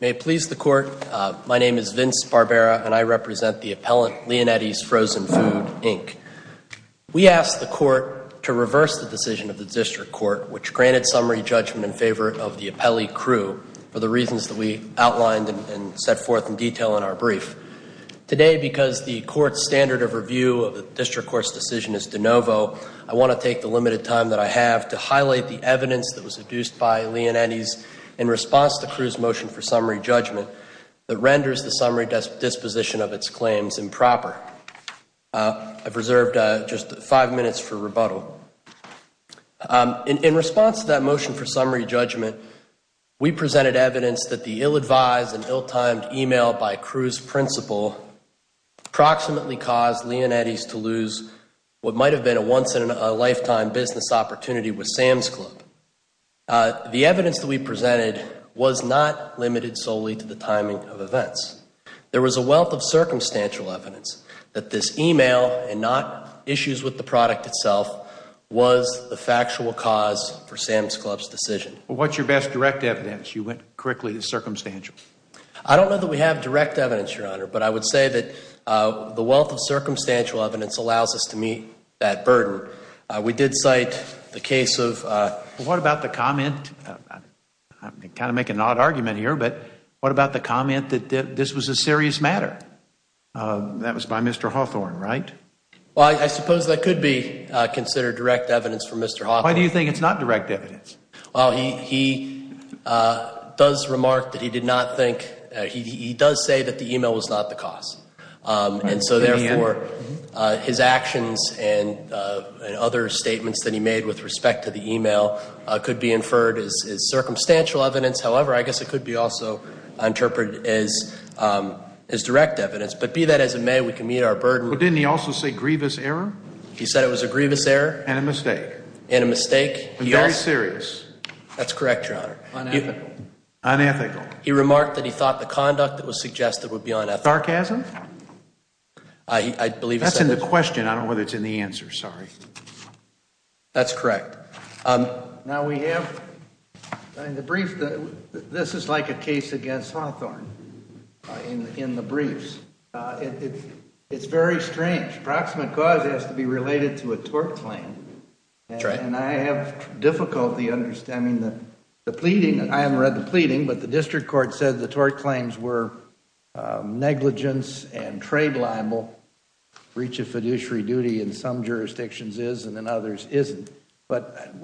May it please the Court, my name is Vince Barbera and I represent the appellant Leonetti's Frozen Food, Inc. We asked the Court to reverse the decision of the District Court, which granted summary judgment in favor of the appellee, Crew, for the reasons that we outlined and set forth in detail in our brief. Today, because the Court's standard of review of the District Court's decision is de novo, I want to take the limited time that I have to highlight the evidence that was adduced by Leonetti's in response to Crew's motion for summary judgment that renders the summary disposition of its claims improper. I've reserved just five minutes for rebuttal. In response to that motion for summary judgment, we presented evidence that the ill-advised and ill-timed email by Crew's principal approximately caused Leonetti's to lose what might have been a once-in-a-lifetime business opportunity with Sam's Club. The evidence that we presented was not limited solely to the timing of events. There was a wealth of circumstantial evidence that this email and not issues with the product itself was the factual cause for Sam's Club's decision. What's your best direct evidence? You went quickly to circumstantial. I don't know that we have direct evidence, Your Honor, but I would say that the wealth of circumstantial evidence allows us to meet that burden. We did cite the case of What about the comment, I'm kind of making an odd argument here, but what about the comment that this was a serious matter? That was by Mr. Hawthorne, right? Well, I suppose that could be considered direct evidence for Mr. Hawthorne. Why do you think it's not direct evidence? Well, he does remark that he did not think, he does say that the email was not the cause. And so therefore, his actions and other statements that he made with respect to the email could be inferred as circumstantial evidence. However, I guess it could be also interpreted as direct evidence, but be that as it may, we can meet our burden. But didn't he also say grievous error? He said it was a grievous error. And a mistake. And a mistake. And very serious. That's correct, Your Honor. Unethical. Unethical. He remarked that he thought the conduct that was suggested would be unethical. Sarcasm? That's in the question, I don't know whether it's in the answer, sorry. That's correct. Now, we have, in the brief, this is like a case against Hawthorne, in the briefs. It's very strange. Approximate cause has to be related to a tort claim. And I have difficulty understanding the pleading, I haven't read the pleading, but the district court said the tort claims were negligence and trade libel. Breach of fiduciary duty in some jurisdictions is and in others isn't. But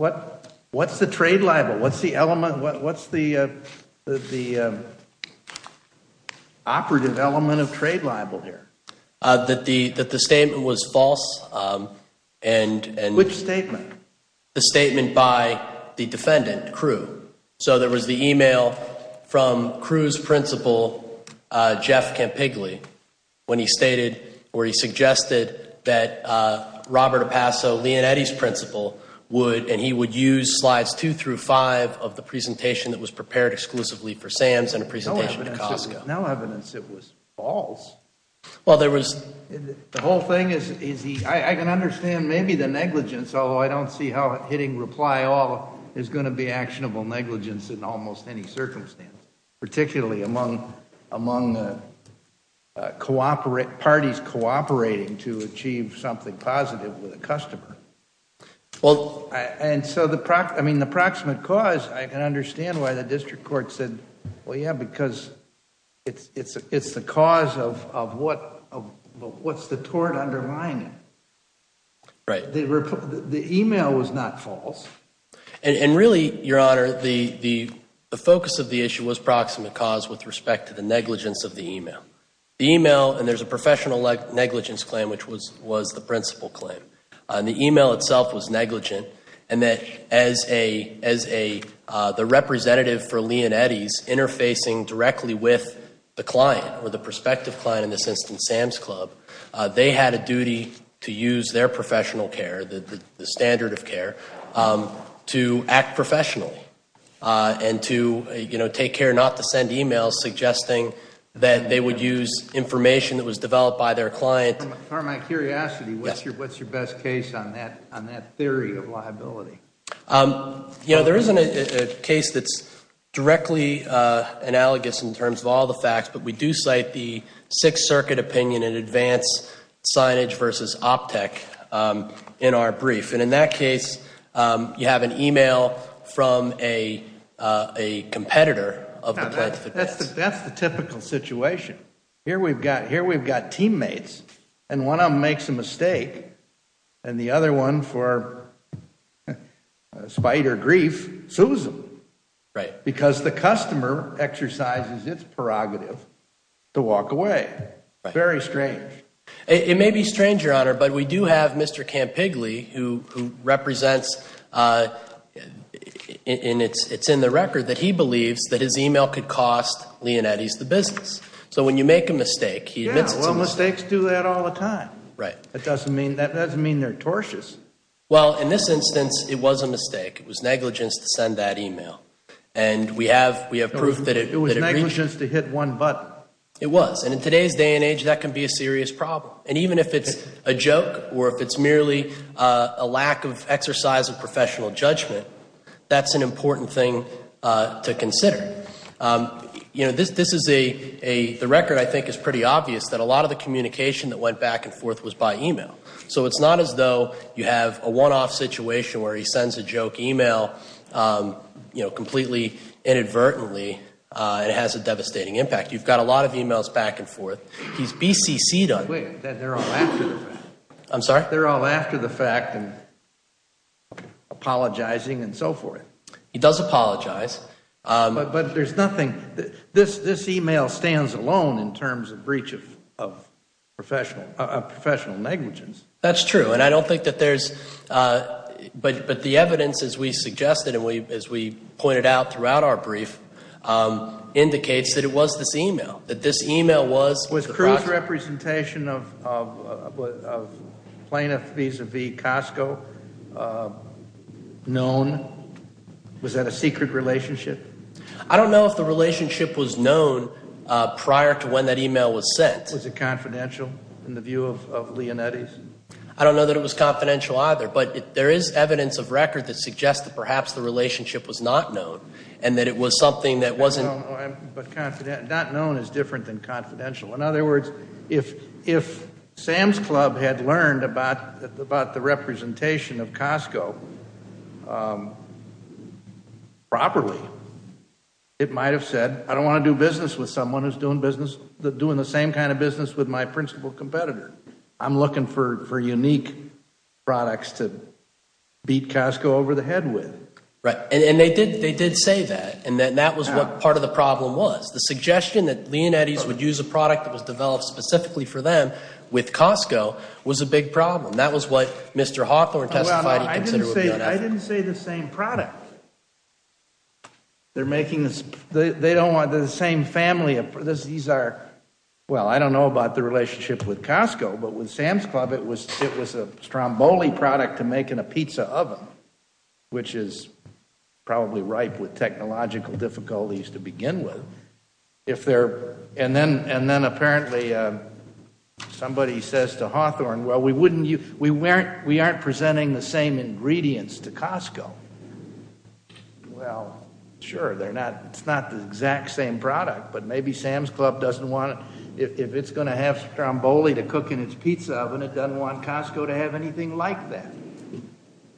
what's the trade libel? What's the element, what's the operative element of trade libel here? That the statement was false and Which statement? The statement by the defendant, Crewe. So there was the email from Crewe's principal, Jeff Campigli, when he stated, or he suggested that Robert Opasso, Leonetti's principal, would, and he would use slides two through five of the presentation that was prepared exclusively for SAMS and a presentation to COSCO. No evidence it was false. Well, there was The whole thing is, I can understand maybe the negligence, although I don't see how hitting reply all is going to be actionable negligence in almost any circumstance, particularly among the parties cooperating to achieve something positive with a customer. And so the, I mean, the proximate cause, I can understand why the district court said, well, yeah, because it's the cause of what's the tort underlying it. Right. The email was not false. And really, Your Honor, the focus of the issue was proximate cause with respect to the negligence of the email. The email, and there's a professional negligence claim, which was the principal claim, and the email itself was negligent. And that as a, as a, the representative for Leonetti's interfacing directly with the client or the prospective client in this instance, SAMS Club, they had a duty to use their professional care, the standard of care, to act professionally and to, you know, take care not to send emails suggesting that they would use information that was developed by their client. From my curiosity, what's your best case on that, on that theory of liability? You know, there isn't a case that's directly analogous in terms of all the facts, but we do cite the Sixth Circuit opinion in advance signage versus OPTEC in our brief. And in that case, you have an email from a competitor of the plaintiff. That's the typical situation. Here we've got, here we've got teammates, and one of them makes a mistake, and the other one, for spite or grief, sues them, because the customer exercises its prerogative to walk away. Very strange. It may be strange, Your Honor, but we do have Mr. Campigli, who represents, and it's in the record that he believes that his email could cost Leonetti's the business. So when you make a mistake, he admits it's a mistake. Yeah, well, mistakes do that all the time. Right. But that doesn't mean, that doesn't mean they're tortious. Well, in this instance, it was a mistake. It was negligence to send that email. And we have, we have proof that it was negligence to hit one button. It was. And in today's day and age, that can be a serious problem. And even if it's a joke or if it's merely a lack of exercise of professional judgment, that's an important thing to consider. You know, this is a, the record, I think, is pretty obvious that a lot of the communication that went back and forth was by email. So it's not as though you have a one-off situation where he sends a joke email, you know, completely inadvertently and it has a devastating impact. You've got a lot of emails back and forth. He's BCC'd on it. Wait, they're all after the fact. I'm sorry? They're all after the fact and apologizing and so forth. He does apologize. But there's nothing, this email stands alone in terms of breach of professional negligence. That's true. And I don't think that there's, but the evidence, as we suggested and as we pointed out throughout our brief, indicates that it was this email, that this email was. Was Cruz's representation of plaintiff vis-a-vis Costco known? Was that a secret relationship? I don't know if the relationship was known prior to when that email was sent. Was it confidential in the view of Leonetti's? I don't know that it was confidential either, but there is evidence of record that suggests that perhaps the relationship was not known and that it was something that wasn't. Not known is different than confidential. In other words, if Sam's Club had learned about the representation of Costco properly, it might have said, I don't want to do business with someone who's doing the same kind of business with my principal competitor. I'm looking for unique products to beat Costco over the head with. Right. And they did say that. And that was what part of the problem was. The suggestion that Leonetti's would use a product that was developed specifically for them with Costco was a big problem. That was what Mr. Hawthorne testified he considered would be unethical. I didn't say the same product. They're making, they don't want the same family of, these are, well, I don't know about the relationship with Costco, but with Sam's Club, it was a Stromboli product to make in a pizza oven, which is probably ripe with technological difficulties to begin with. If they're, and then apparently somebody says to Hawthorne, well, we wouldn't, we weren't, we aren't presenting the same ingredients to Costco. Well, sure, they're not, it's not the exact same product, but maybe Sam's Club doesn't want it. If it's going to have Stromboli to cook in its pizza oven, it doesn't want Costco to have anything like that.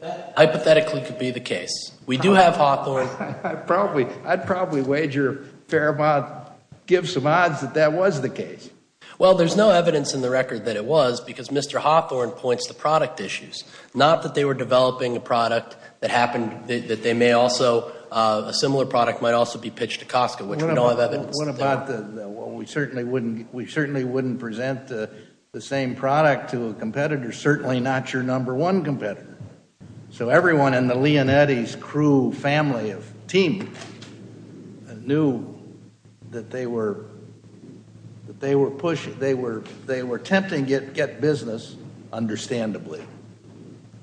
That hypothetically could be the case. We do have Hawthorne. I'd probably, I'd probably wager a fair amount, give some odds that that was the case. Well, there's no evidence in the record that it was because Mr. Hawthorne points to product issues, not that they were developing a product that happened, that they may also, a similar product might also be pitched to Costco, which we don't have evidence of. What about the, well, we certainly wouldn't, we certainly wouldn't present the same product to a competitor, certainly not your number one competitor. So everyone in the Leonetti's crew family of team knew that they were, that they were pushing, they were, they were attempting to get business, understandably,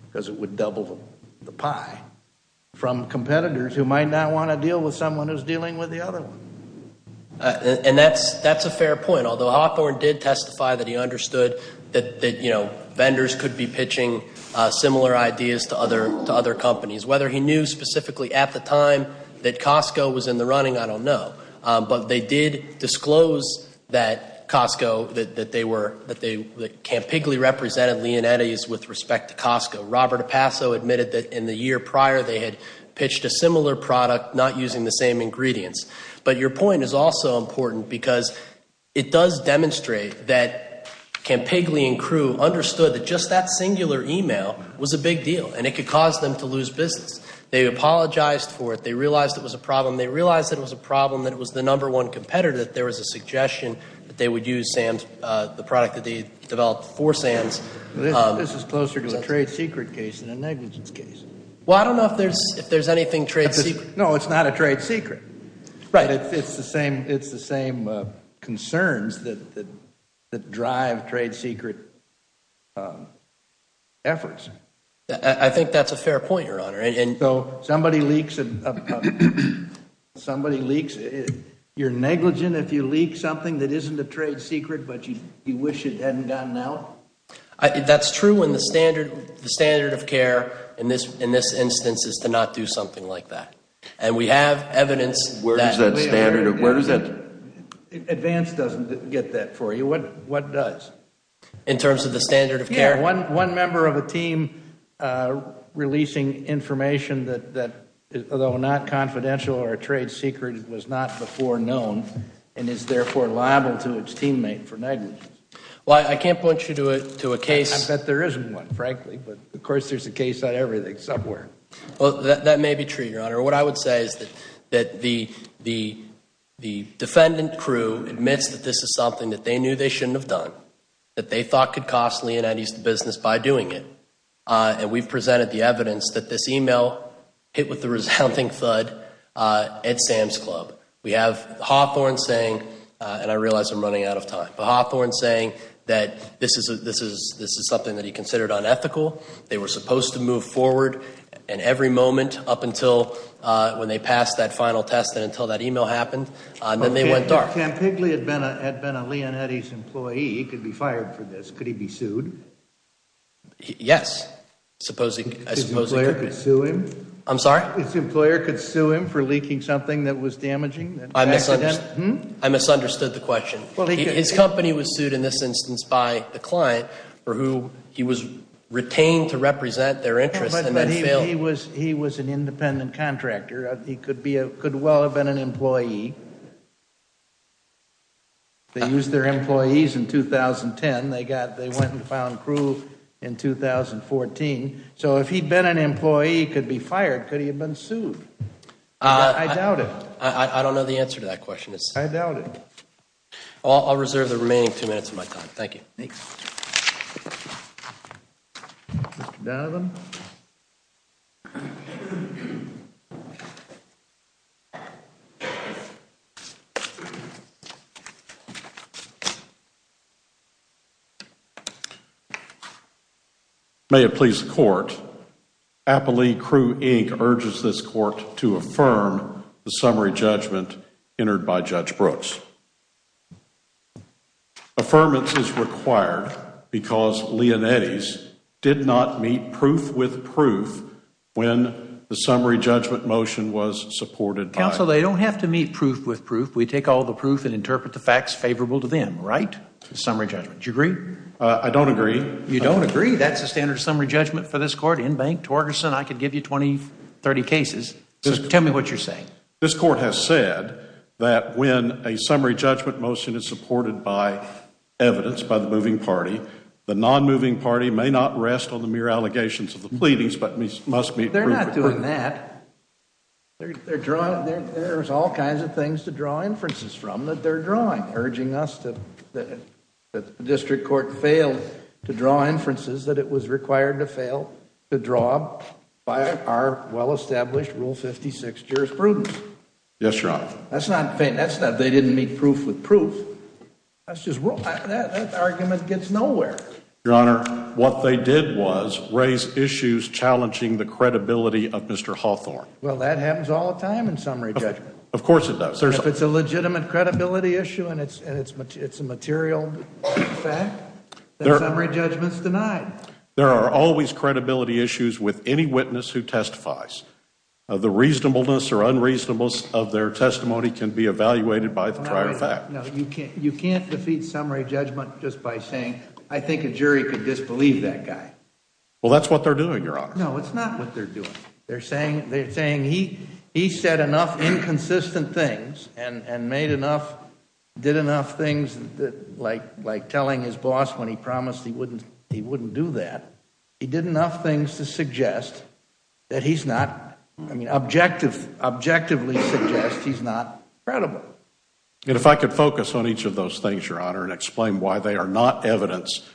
because it would double the pie, from competitors who might not want to deal with someone who's dealing with the other one. And that's, that's a fair point. Although Hawthorne did testify that he understood that, that, you know, vendors could be pitching similar ideas to other, to other companies. Whether he knew specifically at the time that Costco was in the running, I don't know. But they did disclose that Costco, that they were, that Campigli represented Leonetti's with respect to Costco. Robert Opasso admitted that in the year prior, they had pitched a similar product, not using the same ingredients. But your point is also important because it does demonstrate that Campigli and crew understood that just that singular email was a big deal and it could cause them to lose business. They apologized for it. They realized it was a problem. They realized that it was a problem, that it was the number one competitor, that there was a suggestion that they would use Sam's, the product that they developed for Sam's. This is closer to a trade secret case than a negligence case. Well, I don't know if there's, if there's anything trade secret. No, it's not a trade secret. Right. It's the same, it's the same concerns that, that drive trade secret efforts. I think that's a fair point, Your Honor. And so somebody leaks, somebody leaks, you're negligent if you leak something that isn't a trade secret, but you wish it hadn't gotten out? That's true when the standard, the standard of care in this, in this instance is to not do something like that. And we have evidence that, where does that, where does that, advance doesn't get that for you. What, what does? In terms of the standard of care? Yeah, one, one member of a team releasing information that, that although not confidential or a trade secret, it was not before known and is therefore liable to its teammate for negligence. Well, I can't point you to a, to a case, I bet there isn't one, frankly, but of course there's a case on everything somewhere. Well, that, that may be true, Your Honor. What I would say is that, that the, the, the defendant crew admits that this is something that they knew they shouldn't have done, that they thought could cost Leonetti's business by doing it. And we've presented the evidence that this email hit with the resounding thud at Sam's Club. We have Hawthorne saying, and I realize I'm running out of time, but Hawthorne saying that this is, this is, this is something that he considered unethical. They were supposed to move forward and every moment up until when they passed that final test and until that email happened, and then they went dark. If Campigli had been a, had been a Leonetti's employee, he could be fired for this. Could he be sued? Yes. Supposing, I suppose. His employer could sue him? I'm sorry? His employer could sue him for leaking something that was damaging? I misunderstood. Hmm? I misunderstood the question. His company was sued in this instance by a client for who he was retained to represent their interests and then failed. He was an independent contractor. He could be a, could well have been an employee. They used their employees in 2010. They got, they went and found proof in 2014. So if he'd been an employee, he could be fired. Could he have been sued? I doubt it. I don't know the answer to that question. I doubt it. I'll reserve the remaining two minutes of my time. Thank you. Thanks. Mr. Donovan? May it please the Court, Applee Crew Inc. urges this Court to affirm the summary judgment entered by Judge Brooks. Affirmance is required because Leonetti's did not meet proof with proof when the summary judgment motion was supported by. Counsel, they don't have to meet proof with proof. We take all the proof and interpret the facts favorable to them, right? Summary judgment. Do you agree? I don't agree. You don't agree? That's the standard summary judgment for this Court. Inbank, Torgerson, I could give you 20, 30 cases. Tell me what you're saying. This Court has said that when a summary judgment motion is supported by evidence by the moving party, the non-moving party may not rest on the mere allegations of the pleadings but must meet proof with proof. They're not doing that. They're drawing, there's all kinds of things to draw inferences from that they're drawing, urging us that the District Court failed to draw inferences that it was required to fail to draw by our well-established Rule 56 jurisprudence. Yes, Your Honor. That's not, they didn't meet proof with proof. That's just, that argument gets nowhere. Your Honor, what they did was raise issues challenging the credibility of Mr. Hawthorne. Well, that happens all the time in summary judgment. Of course it does. If it's a legitimate credibility issue and it's a material fact, then summary judgment's denied. There are always credibility issues with any witness who testifies. The reasonableness or unreasonableness of their testimony can be evaluated by the prior fact. No, you can't defeat summary judgment just by saying, I think a jury could disbelieve that guy. Well, that's what they're doing, Your Honor. No, it's not what they're doing. They're saying he said enough inconsistent things and made enough, did enough things like telling his boss when he promised he wouldn't do that. He did enough things to suggest that he's not, I mean, objectively suggest he's not credible. And if I could focus on each of those things, Your Honor, and explain why they are not evidence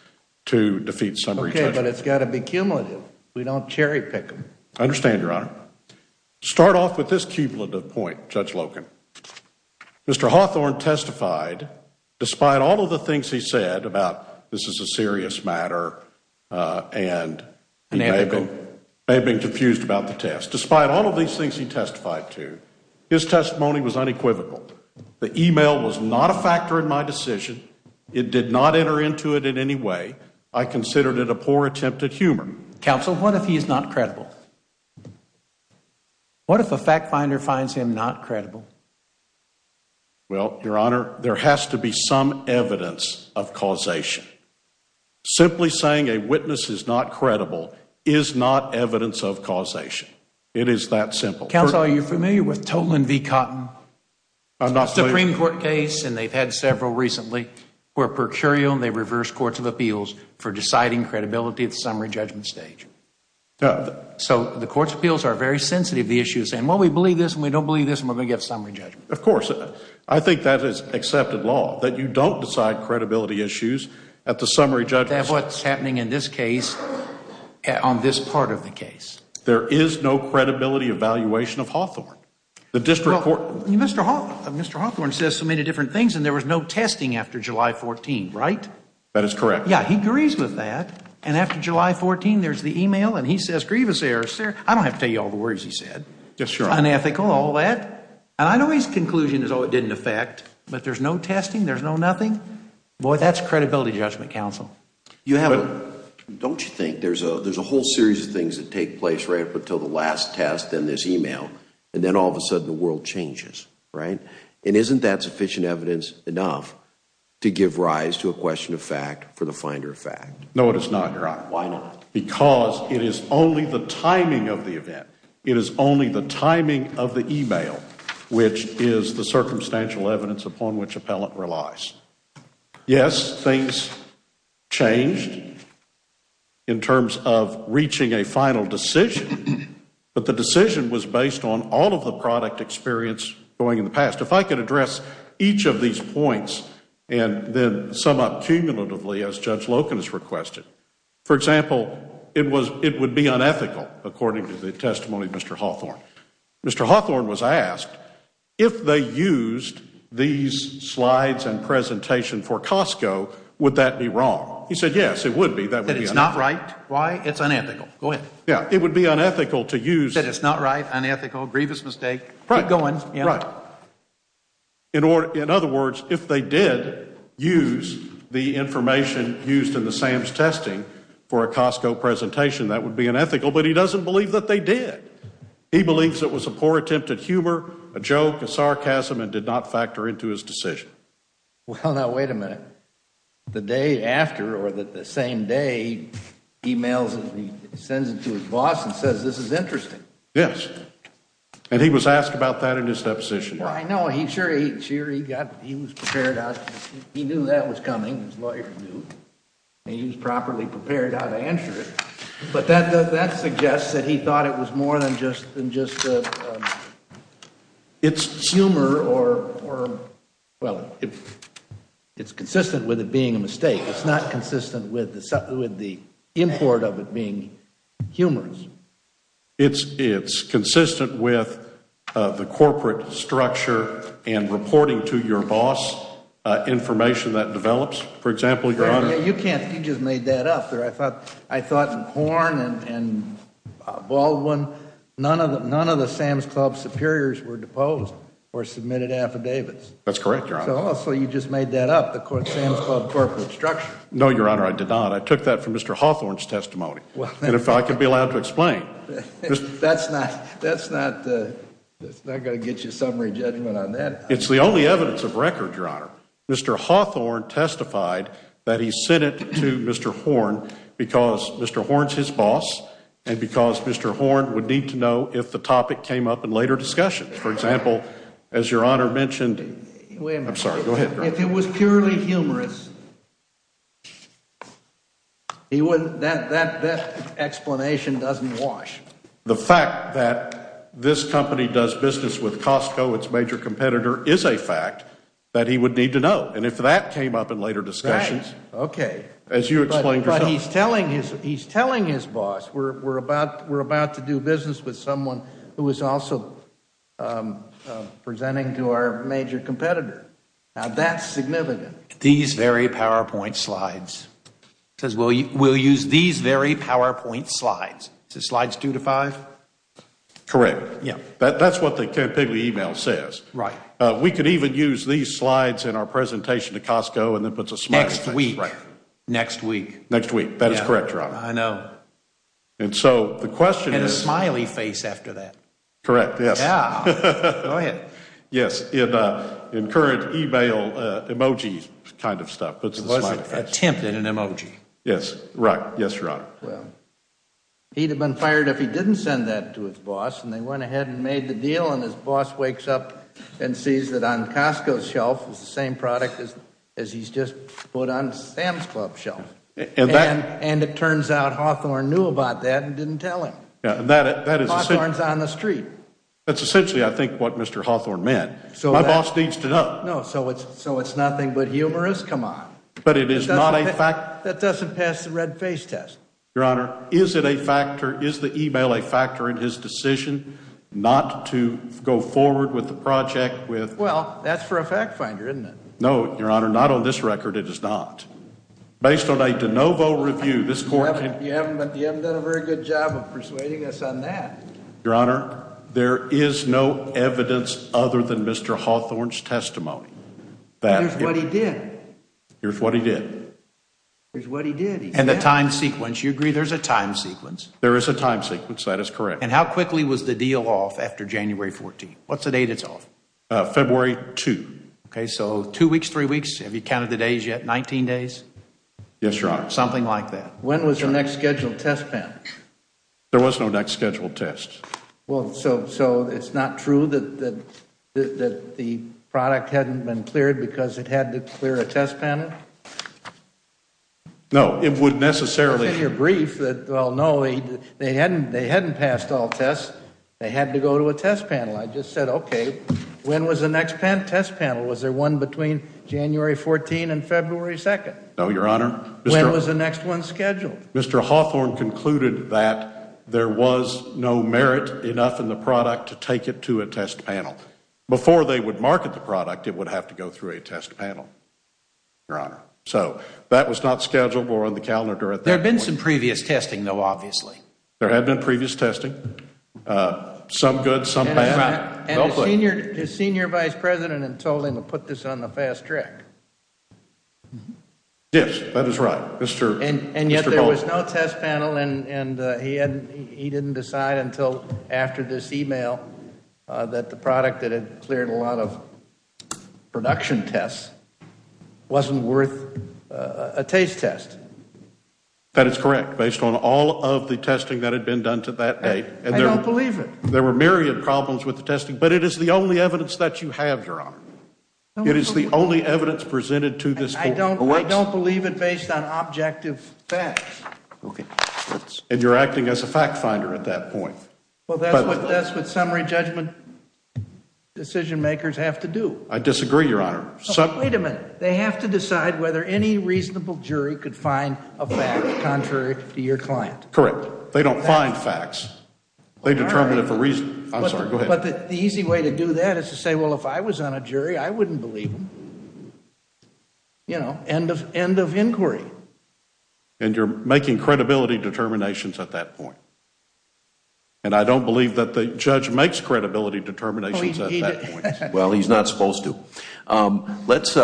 to defeat summary judgment. Okay, but it's got to be cumulative. We don't cherry pick them. I understand, Your Honor. Start off with this cumulative point, Judge Loken. Mr. Hawthorne testified, despite all of the things he said about this is a serious matter and he may have been confused about the test, despite all of these things he testified to, his testimony was unequivocal. The email was not a factor in my decision. It did not enter into it in any way. I considered it a poor attempt at humor. Counsel, what if he's not credible? What if a fact finder finds him not credible? Well, Your Honor, there has to be some evidence of causation. Simply saying a witness is not credible is not evidence of causation. It is that simple. Counsel, are you familiar with Tolan v. Cotton? I'm not familiar. Supreme Court case, and they've had several recently, where per curio they reverse courts of appeals for deciding credibility at the summary judgment stage. So the courts of appeals are very sensitive to the issue, saying, well, we believe this and we don't believe this and we're going to get a summary judgment. Of course. I think that is accepted law, that you don't decide credibility issues at the summary judgment. That's what's happening in this case, on this part of the case. There is no credibility evaluation of Hawthorne. Mr. Hawthorne says so many different things and there was no testing after July 14, right? That is correct. Yeah, he agrees with that. And after July 14, there's the email and he says grievous error. I don't have to tell you all the words he said. Unethical, all that. And I know his conclusion is, oh, it didn't affect, but there's no testing, there's no nothing. Boy, that's credibility judgment, counsel. Don't you think there's a whole series of things that take place right up until the last test, then this email, and then all of a sudden the world changes, right? And isn't that sufficient evidence enough to give rise to a question of fact for the finder of fact? No, it is not, Your Honor. Why not? Because it is only the timing of the event. It is only the timing of the email which is the circumstantial evidence upon which appellant relies. Yes, things changed in terms of reaching a final decision, but the decision was based on all of the product experience going in the past. If I could address each of these points and then sum up cumulatively as Judge Loken has requested. For example, it would be unethical according to the testimony of Mr. Hawthorne. Mr. Hawthorne was asked if they used these slides and presentation for Costco, would that be wrong? He said yes, it would be. That it's not right? Why? It's unethical. Go ahead. It would be unethical to use That it's not right, unethical, grievous mistake. Keep going. Right. In other words, if they did use the information used in the Sam's testing for a Costco presentation, that would be unethical, but he doesn't believe that they did. He believes it was a poor attempt at humor, a joke, a sarcasm, and did not factor into his decision. Well, now wait a minute. The day after or the same day, he sends it to his boss and says this is interesting. Yes. And he was asked about that in his deposition. Well, I know. He was prepared. He knew that was coming. His lawyer knew. He was properly prepared how to answer it. But that suggests that he thought it was more than just humor or, well, it's consistent with it being a mistake. It's not consistent with the import of it being humorous. It's consistent with the corporate structure and reporting to your boss information that develops. For example, Your Honor. You just made that up there. I thought Horne and Baldwin, none of the Sam's Club superiors were deposed or submitted affidavits. That's correct, Your Honor. So you just made that up, the Sam's Club corporate structure. No, Your Honor, I did not. I took that from Mr. Hawthorne's testimony. And if I can be allowed to explain. That's not going to get you a summary judgment on that. It's the only evidence of record, Your Honor. Mr. Hawthorne testified that he sent it to Mr. Horne because Mr. Horne's his boss and because Mr. Horne would need to know if the topic came up in later discussions. For example, as Your Honor mentioned. I'm sorry. Go ahead. If it was purely humorous, that explanation doesn't wash. The fact that this company does business with Costco, its major competitor, is a fact that he would need to know. And if that came up in later discussions. Right. Okay. As you explained yourself. But he's telling his boss, we're about to do business with someone who is also presenting to our major competitor. Now, that's significant. These very PowerPoint slides. He says, we'll use these very PowerPoint slides. Is it slides two to five? Correct. That's what the Campiglia email says. Right. We could even use these slides in our presentation to Costco and then put a smiley face. Next week. Right. Next week. Next week. That is correct, Your Honor. I know. And so the question is. And a smiley face after that. Correct, yes. Yeah. Go ahead. Yes. In current email emojis kind of stuff. It was an attempt at an emoji. Yes. Right. Yes, Your Honor. He'd have been fired if he didn't send that to his boss. And they went ahead and made the deal. And his boss wakes up and sees that on Costco's shelf is the same product as he's just put on Sam's Club's shelf. And it turns out Hawthorne knew about that and didn't tell him. Hawthorne's on the street. That's essentially, I think, what Mr. Hawthorne meant. My boss needs to know. So it's nothing but humorous? Come on. But it is not a fact. That doesn't pass the red face test. Your Honor, is it a factor, is the email a factor in his decision not to go forward with the project with. Well, that's for a fact finder, isn't it? No, Your Honor. Not on this record, it is not. Based on a de novo review, this court. You haven't done a very good job of persuading us on that. Your Honor, there is no evidence other than Mr. Hawthorne's testimony. Here's what he did. Here's what he did. Here's what he did. And the time sequence. You agree there's a time sequence? There is a time sequence. That is correct. And how quickly was the deal off after January 14? What's the date it's off? February 2. Okay, so two weeks, three weeks. Have you counted the days yet? 19 days? Yes, Your Honor. Something like that. When was the next scheduled test pen? There was no next scheduled test. Well, so it's not true that the product hadn't been cleared because it had to clear a test panel? No, it would necessarily It's in your brief that, well, no, they hadn't passed all tests. They had to go to a test panel. I just said, okay, when was the next test panel? Was there one between January 14 and February 2? No, Your Honor. When was the next one scheduled? Mr. Hawthorne concluded that there was no merit enough in the product to take it to a test panel. Before they would market the product, it would have to go through a test panel, Your Honor. So that was not scheduled or on the calendar at that point. There had been some previous testing, though, obviously. There had been previous testing. Some good, some bad. And the senior vice president had told him to put this on the fast track. Yes, that is right. And yet there was no test panel, and he didn't decide until after this email that the product that had cleared a lot of production tests wasn't worth a taste test. That is correct, based on all of the testing that had been done to that date. I don't believe it. There were myriad problems with the testing, but it is the only evidence that you have, Your Honor. It is the only evidence presented to this court. I don't believe it based on objective facts. And you're acting as a fact finder at that point. Well, that's what summary judgment decision makers have to do. I disagree, Your Honor. Wait a minute. They have to decide whether any reasonable jury could find a fact contrary to your client. Correct. They don't find facts. They determine it for reason. I'm sorry. Go ahead. But the easy way to do that is to say, well, if I was on a jury, I wouldn't believe them. You know, end of inquiry. And you're making credibility determinations at that point. And I don't believe that the judge makes credibility determinations at that point. Well, he's not supposed to. Let's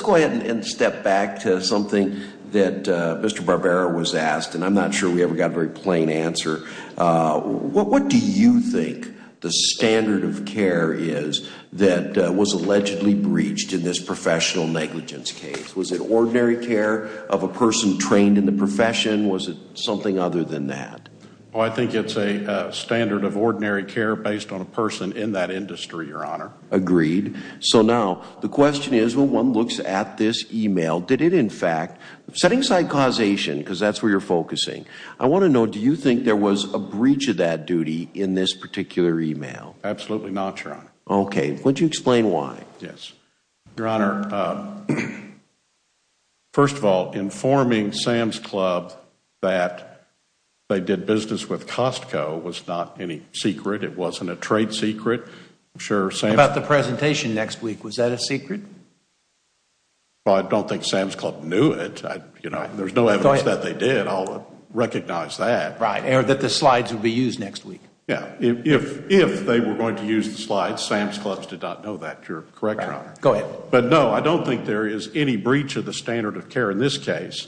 go ahead and step back to something that Mr. Barbera was asked, and I'm not sure we ever got a very plain answer. What do you think the standard of care is that was allegedly breached in this professional negligence case? Was it ordinary care of a person trained in the profession? Was it something other than that? Well, I think it's a standard of ordinary care based on a person in that industry, Your Honor. Agreed. So now the question is, when one looks at this e-mail, did it, in fact, setting aside causation, because that's where you're focusing, I want to know, do you think there was a breach of that duty in this particular e-mail? Absolutely not, Your Honor. Okay. Would you explain why? Yes. Your Honor, first of all, informing Sam's Club that they did business with Costco was not any secret. It wasn't a trade secret. About the presentation next week, was that a secret? Well, I don't think Sam's Club knew it. There's no evidence that they did. I'll recognize that. Or that the slides will be used next week. Yeah. If they were going to use the slides, Sam's Club did not know that. You're correct, Your Honor. Go ahead. But, no, I don't think there is any breach of the standard of care in this case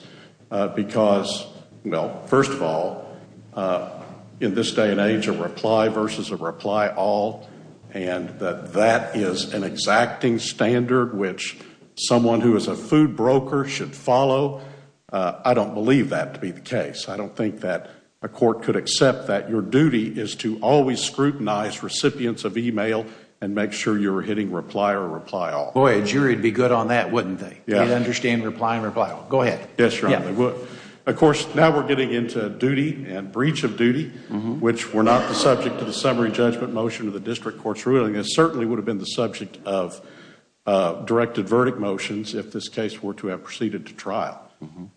because, well, first of all, in this day and age, a reply versus a reply all, and that that is an exacting standard which someone who is a food broker should follow, I don't believe that to be the case. I don't think that a court could accept that your duty is to always scrutinize recipients of e-mail and make sure you're hitting reply or reply all. Boy, a jury would be good on that, wouldn't they? Yeah. They'd understand reply and reply all. Go ahead. Yes, Your Honor, they would. Of course, now we're getting into duty and breach of duty, which were not the subject of the summary judgment motion of the district court's ruling. It certainly would have been the subject of directed verdict motions if this case were to have proceeded to trial.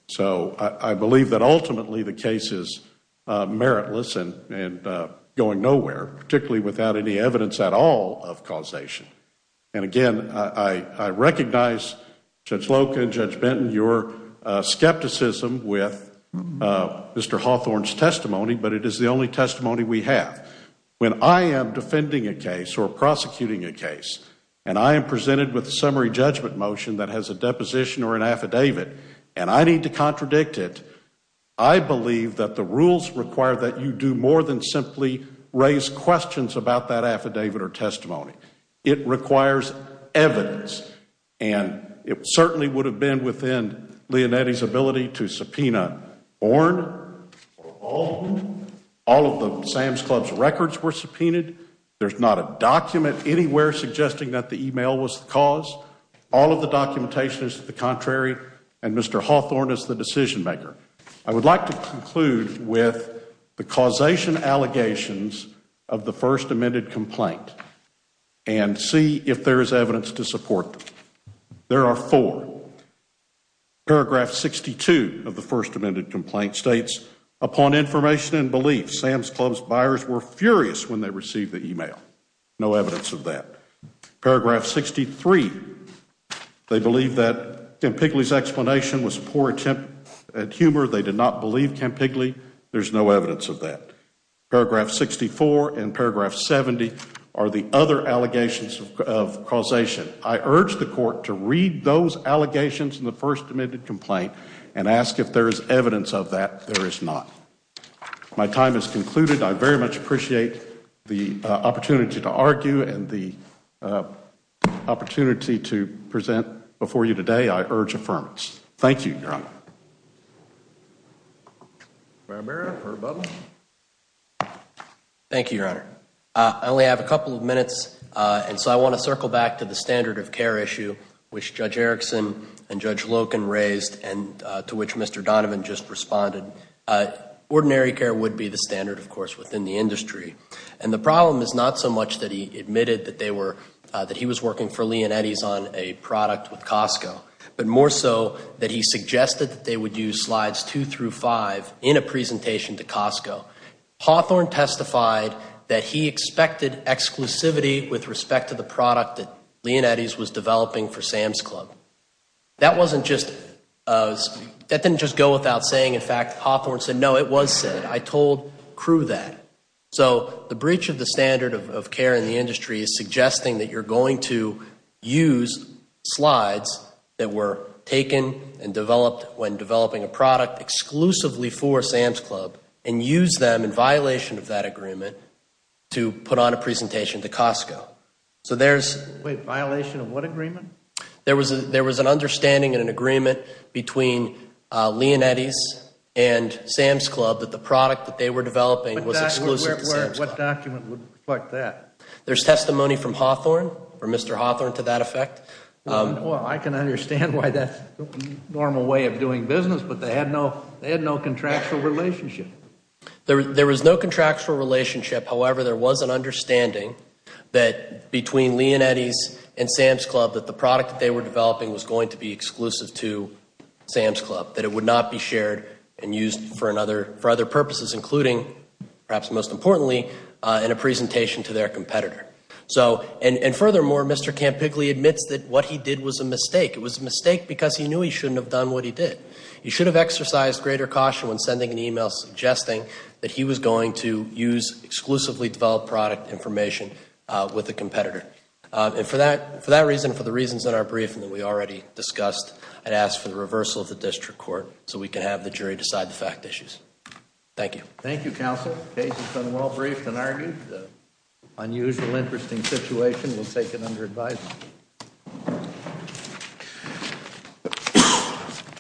So I believe that ultimately the case is meritless and going nowhere, particularly without any evidence at all of causation. And again, I recognize Judge Loca and Judge Benton, your skepticism with Mr. Hawthorne's testimony, but it is the only testimony we have. When I am defending a case or prosecuting a case and I am presented with a summary judgment motion that has a deposition or an affidavit and I need to contradict it, I believe that the rules require that you do more than simply raise questions about that affidavit or testimony. It requires evidence. And it certainly would have been within Leonetti's ability to subpoena Ornn. All of the Sam's Club's records were subpoenaed. There's not a document anywhere suggesting that the email was the cause. All of the documentation is to the contrary. And Mr. Hawthorne is the decision maker. I would like to conclude with the causation allegations of the first amended complaint and see if there is evidence to support them. There are four. Paragraph 62 of the first amended complaint states, Upon information and belief, Sam's Club's buyers were furious when they received the email. No evidence of that. Paragraph 63, they believe that Campigli's explanation was a poor attempt at humor. They did not believe Campigli. There's no evidence of that. Paragraph 64 and paragraph 70 are the other allegations of causation. I urge the court to read those allegations in the first amended complaint and ask if there is evidence of that. There is not. My time has concluded. I very much appreciate the opportunity to argue and the opportunity to present before you today. I urge affirmance. Thank you, Your Honor. Thank you, Your Honor. I only have a couple of minutes, and so I want to circle back to the standard of care issue, which Judge Erickson and Judge Loken raised and to which Mr. Donovan just responded. Ordinary care would be the standard, of course, within the industry. And the problem is not so much that he admitted that he was working for Leonetti's on a product with Costco, but more so that he suggested that they would use slides two through five in a presentation to Costco. Hawthorne testified that he expected exclusivity with respect to the product that Leonetti's was developing for Sam's Club. That didn't just go without saying. In fact, Hawthorne said, no, it was said. I told crew that. So the breach of the standard of care in the industry is suggesting that you're going to use slides that were taken and developed when developing a product exclusively for Sam's Club and use them in violation of that agreement to put on a presentation to Costco. Wait, violation of what agreement? There was an understanding and an agreement between Leonetti's and Sam's Club that the product that they were developing was exclusive to Sam's Club. What document would reflect that? There's testimony from Hawthorne, from Mr. Hawthorne to that effect. Well, I can understand why that's the normal way of doing business, but they had no contractual relationship. There was no contractual relationship. However, there was an understanding that between Leonetti's and Sam's Club that the product that they were developing was going to be exclusive to Sam's Club, that it would not be shared and used for other purposes, including, perhaps most importantly, in a presentation to their competitor. And furthermore, Mr. Campigli admits that what he did was a mistake. It was a mistake because he knew he shouldn't have done what he did. He should have exercised greater caution when sending an email suggesting that he was going to use exclusively developed product information with a competitor. And for that reason, for the reasons in our briefing that we already discussed, I'd ask for the reversal of the district court so we can have the jury decide the fact issues. Thank you. Thank you, Counsel. The case has been well briefed and argued. The unusual, interesting situation will take it under advisement.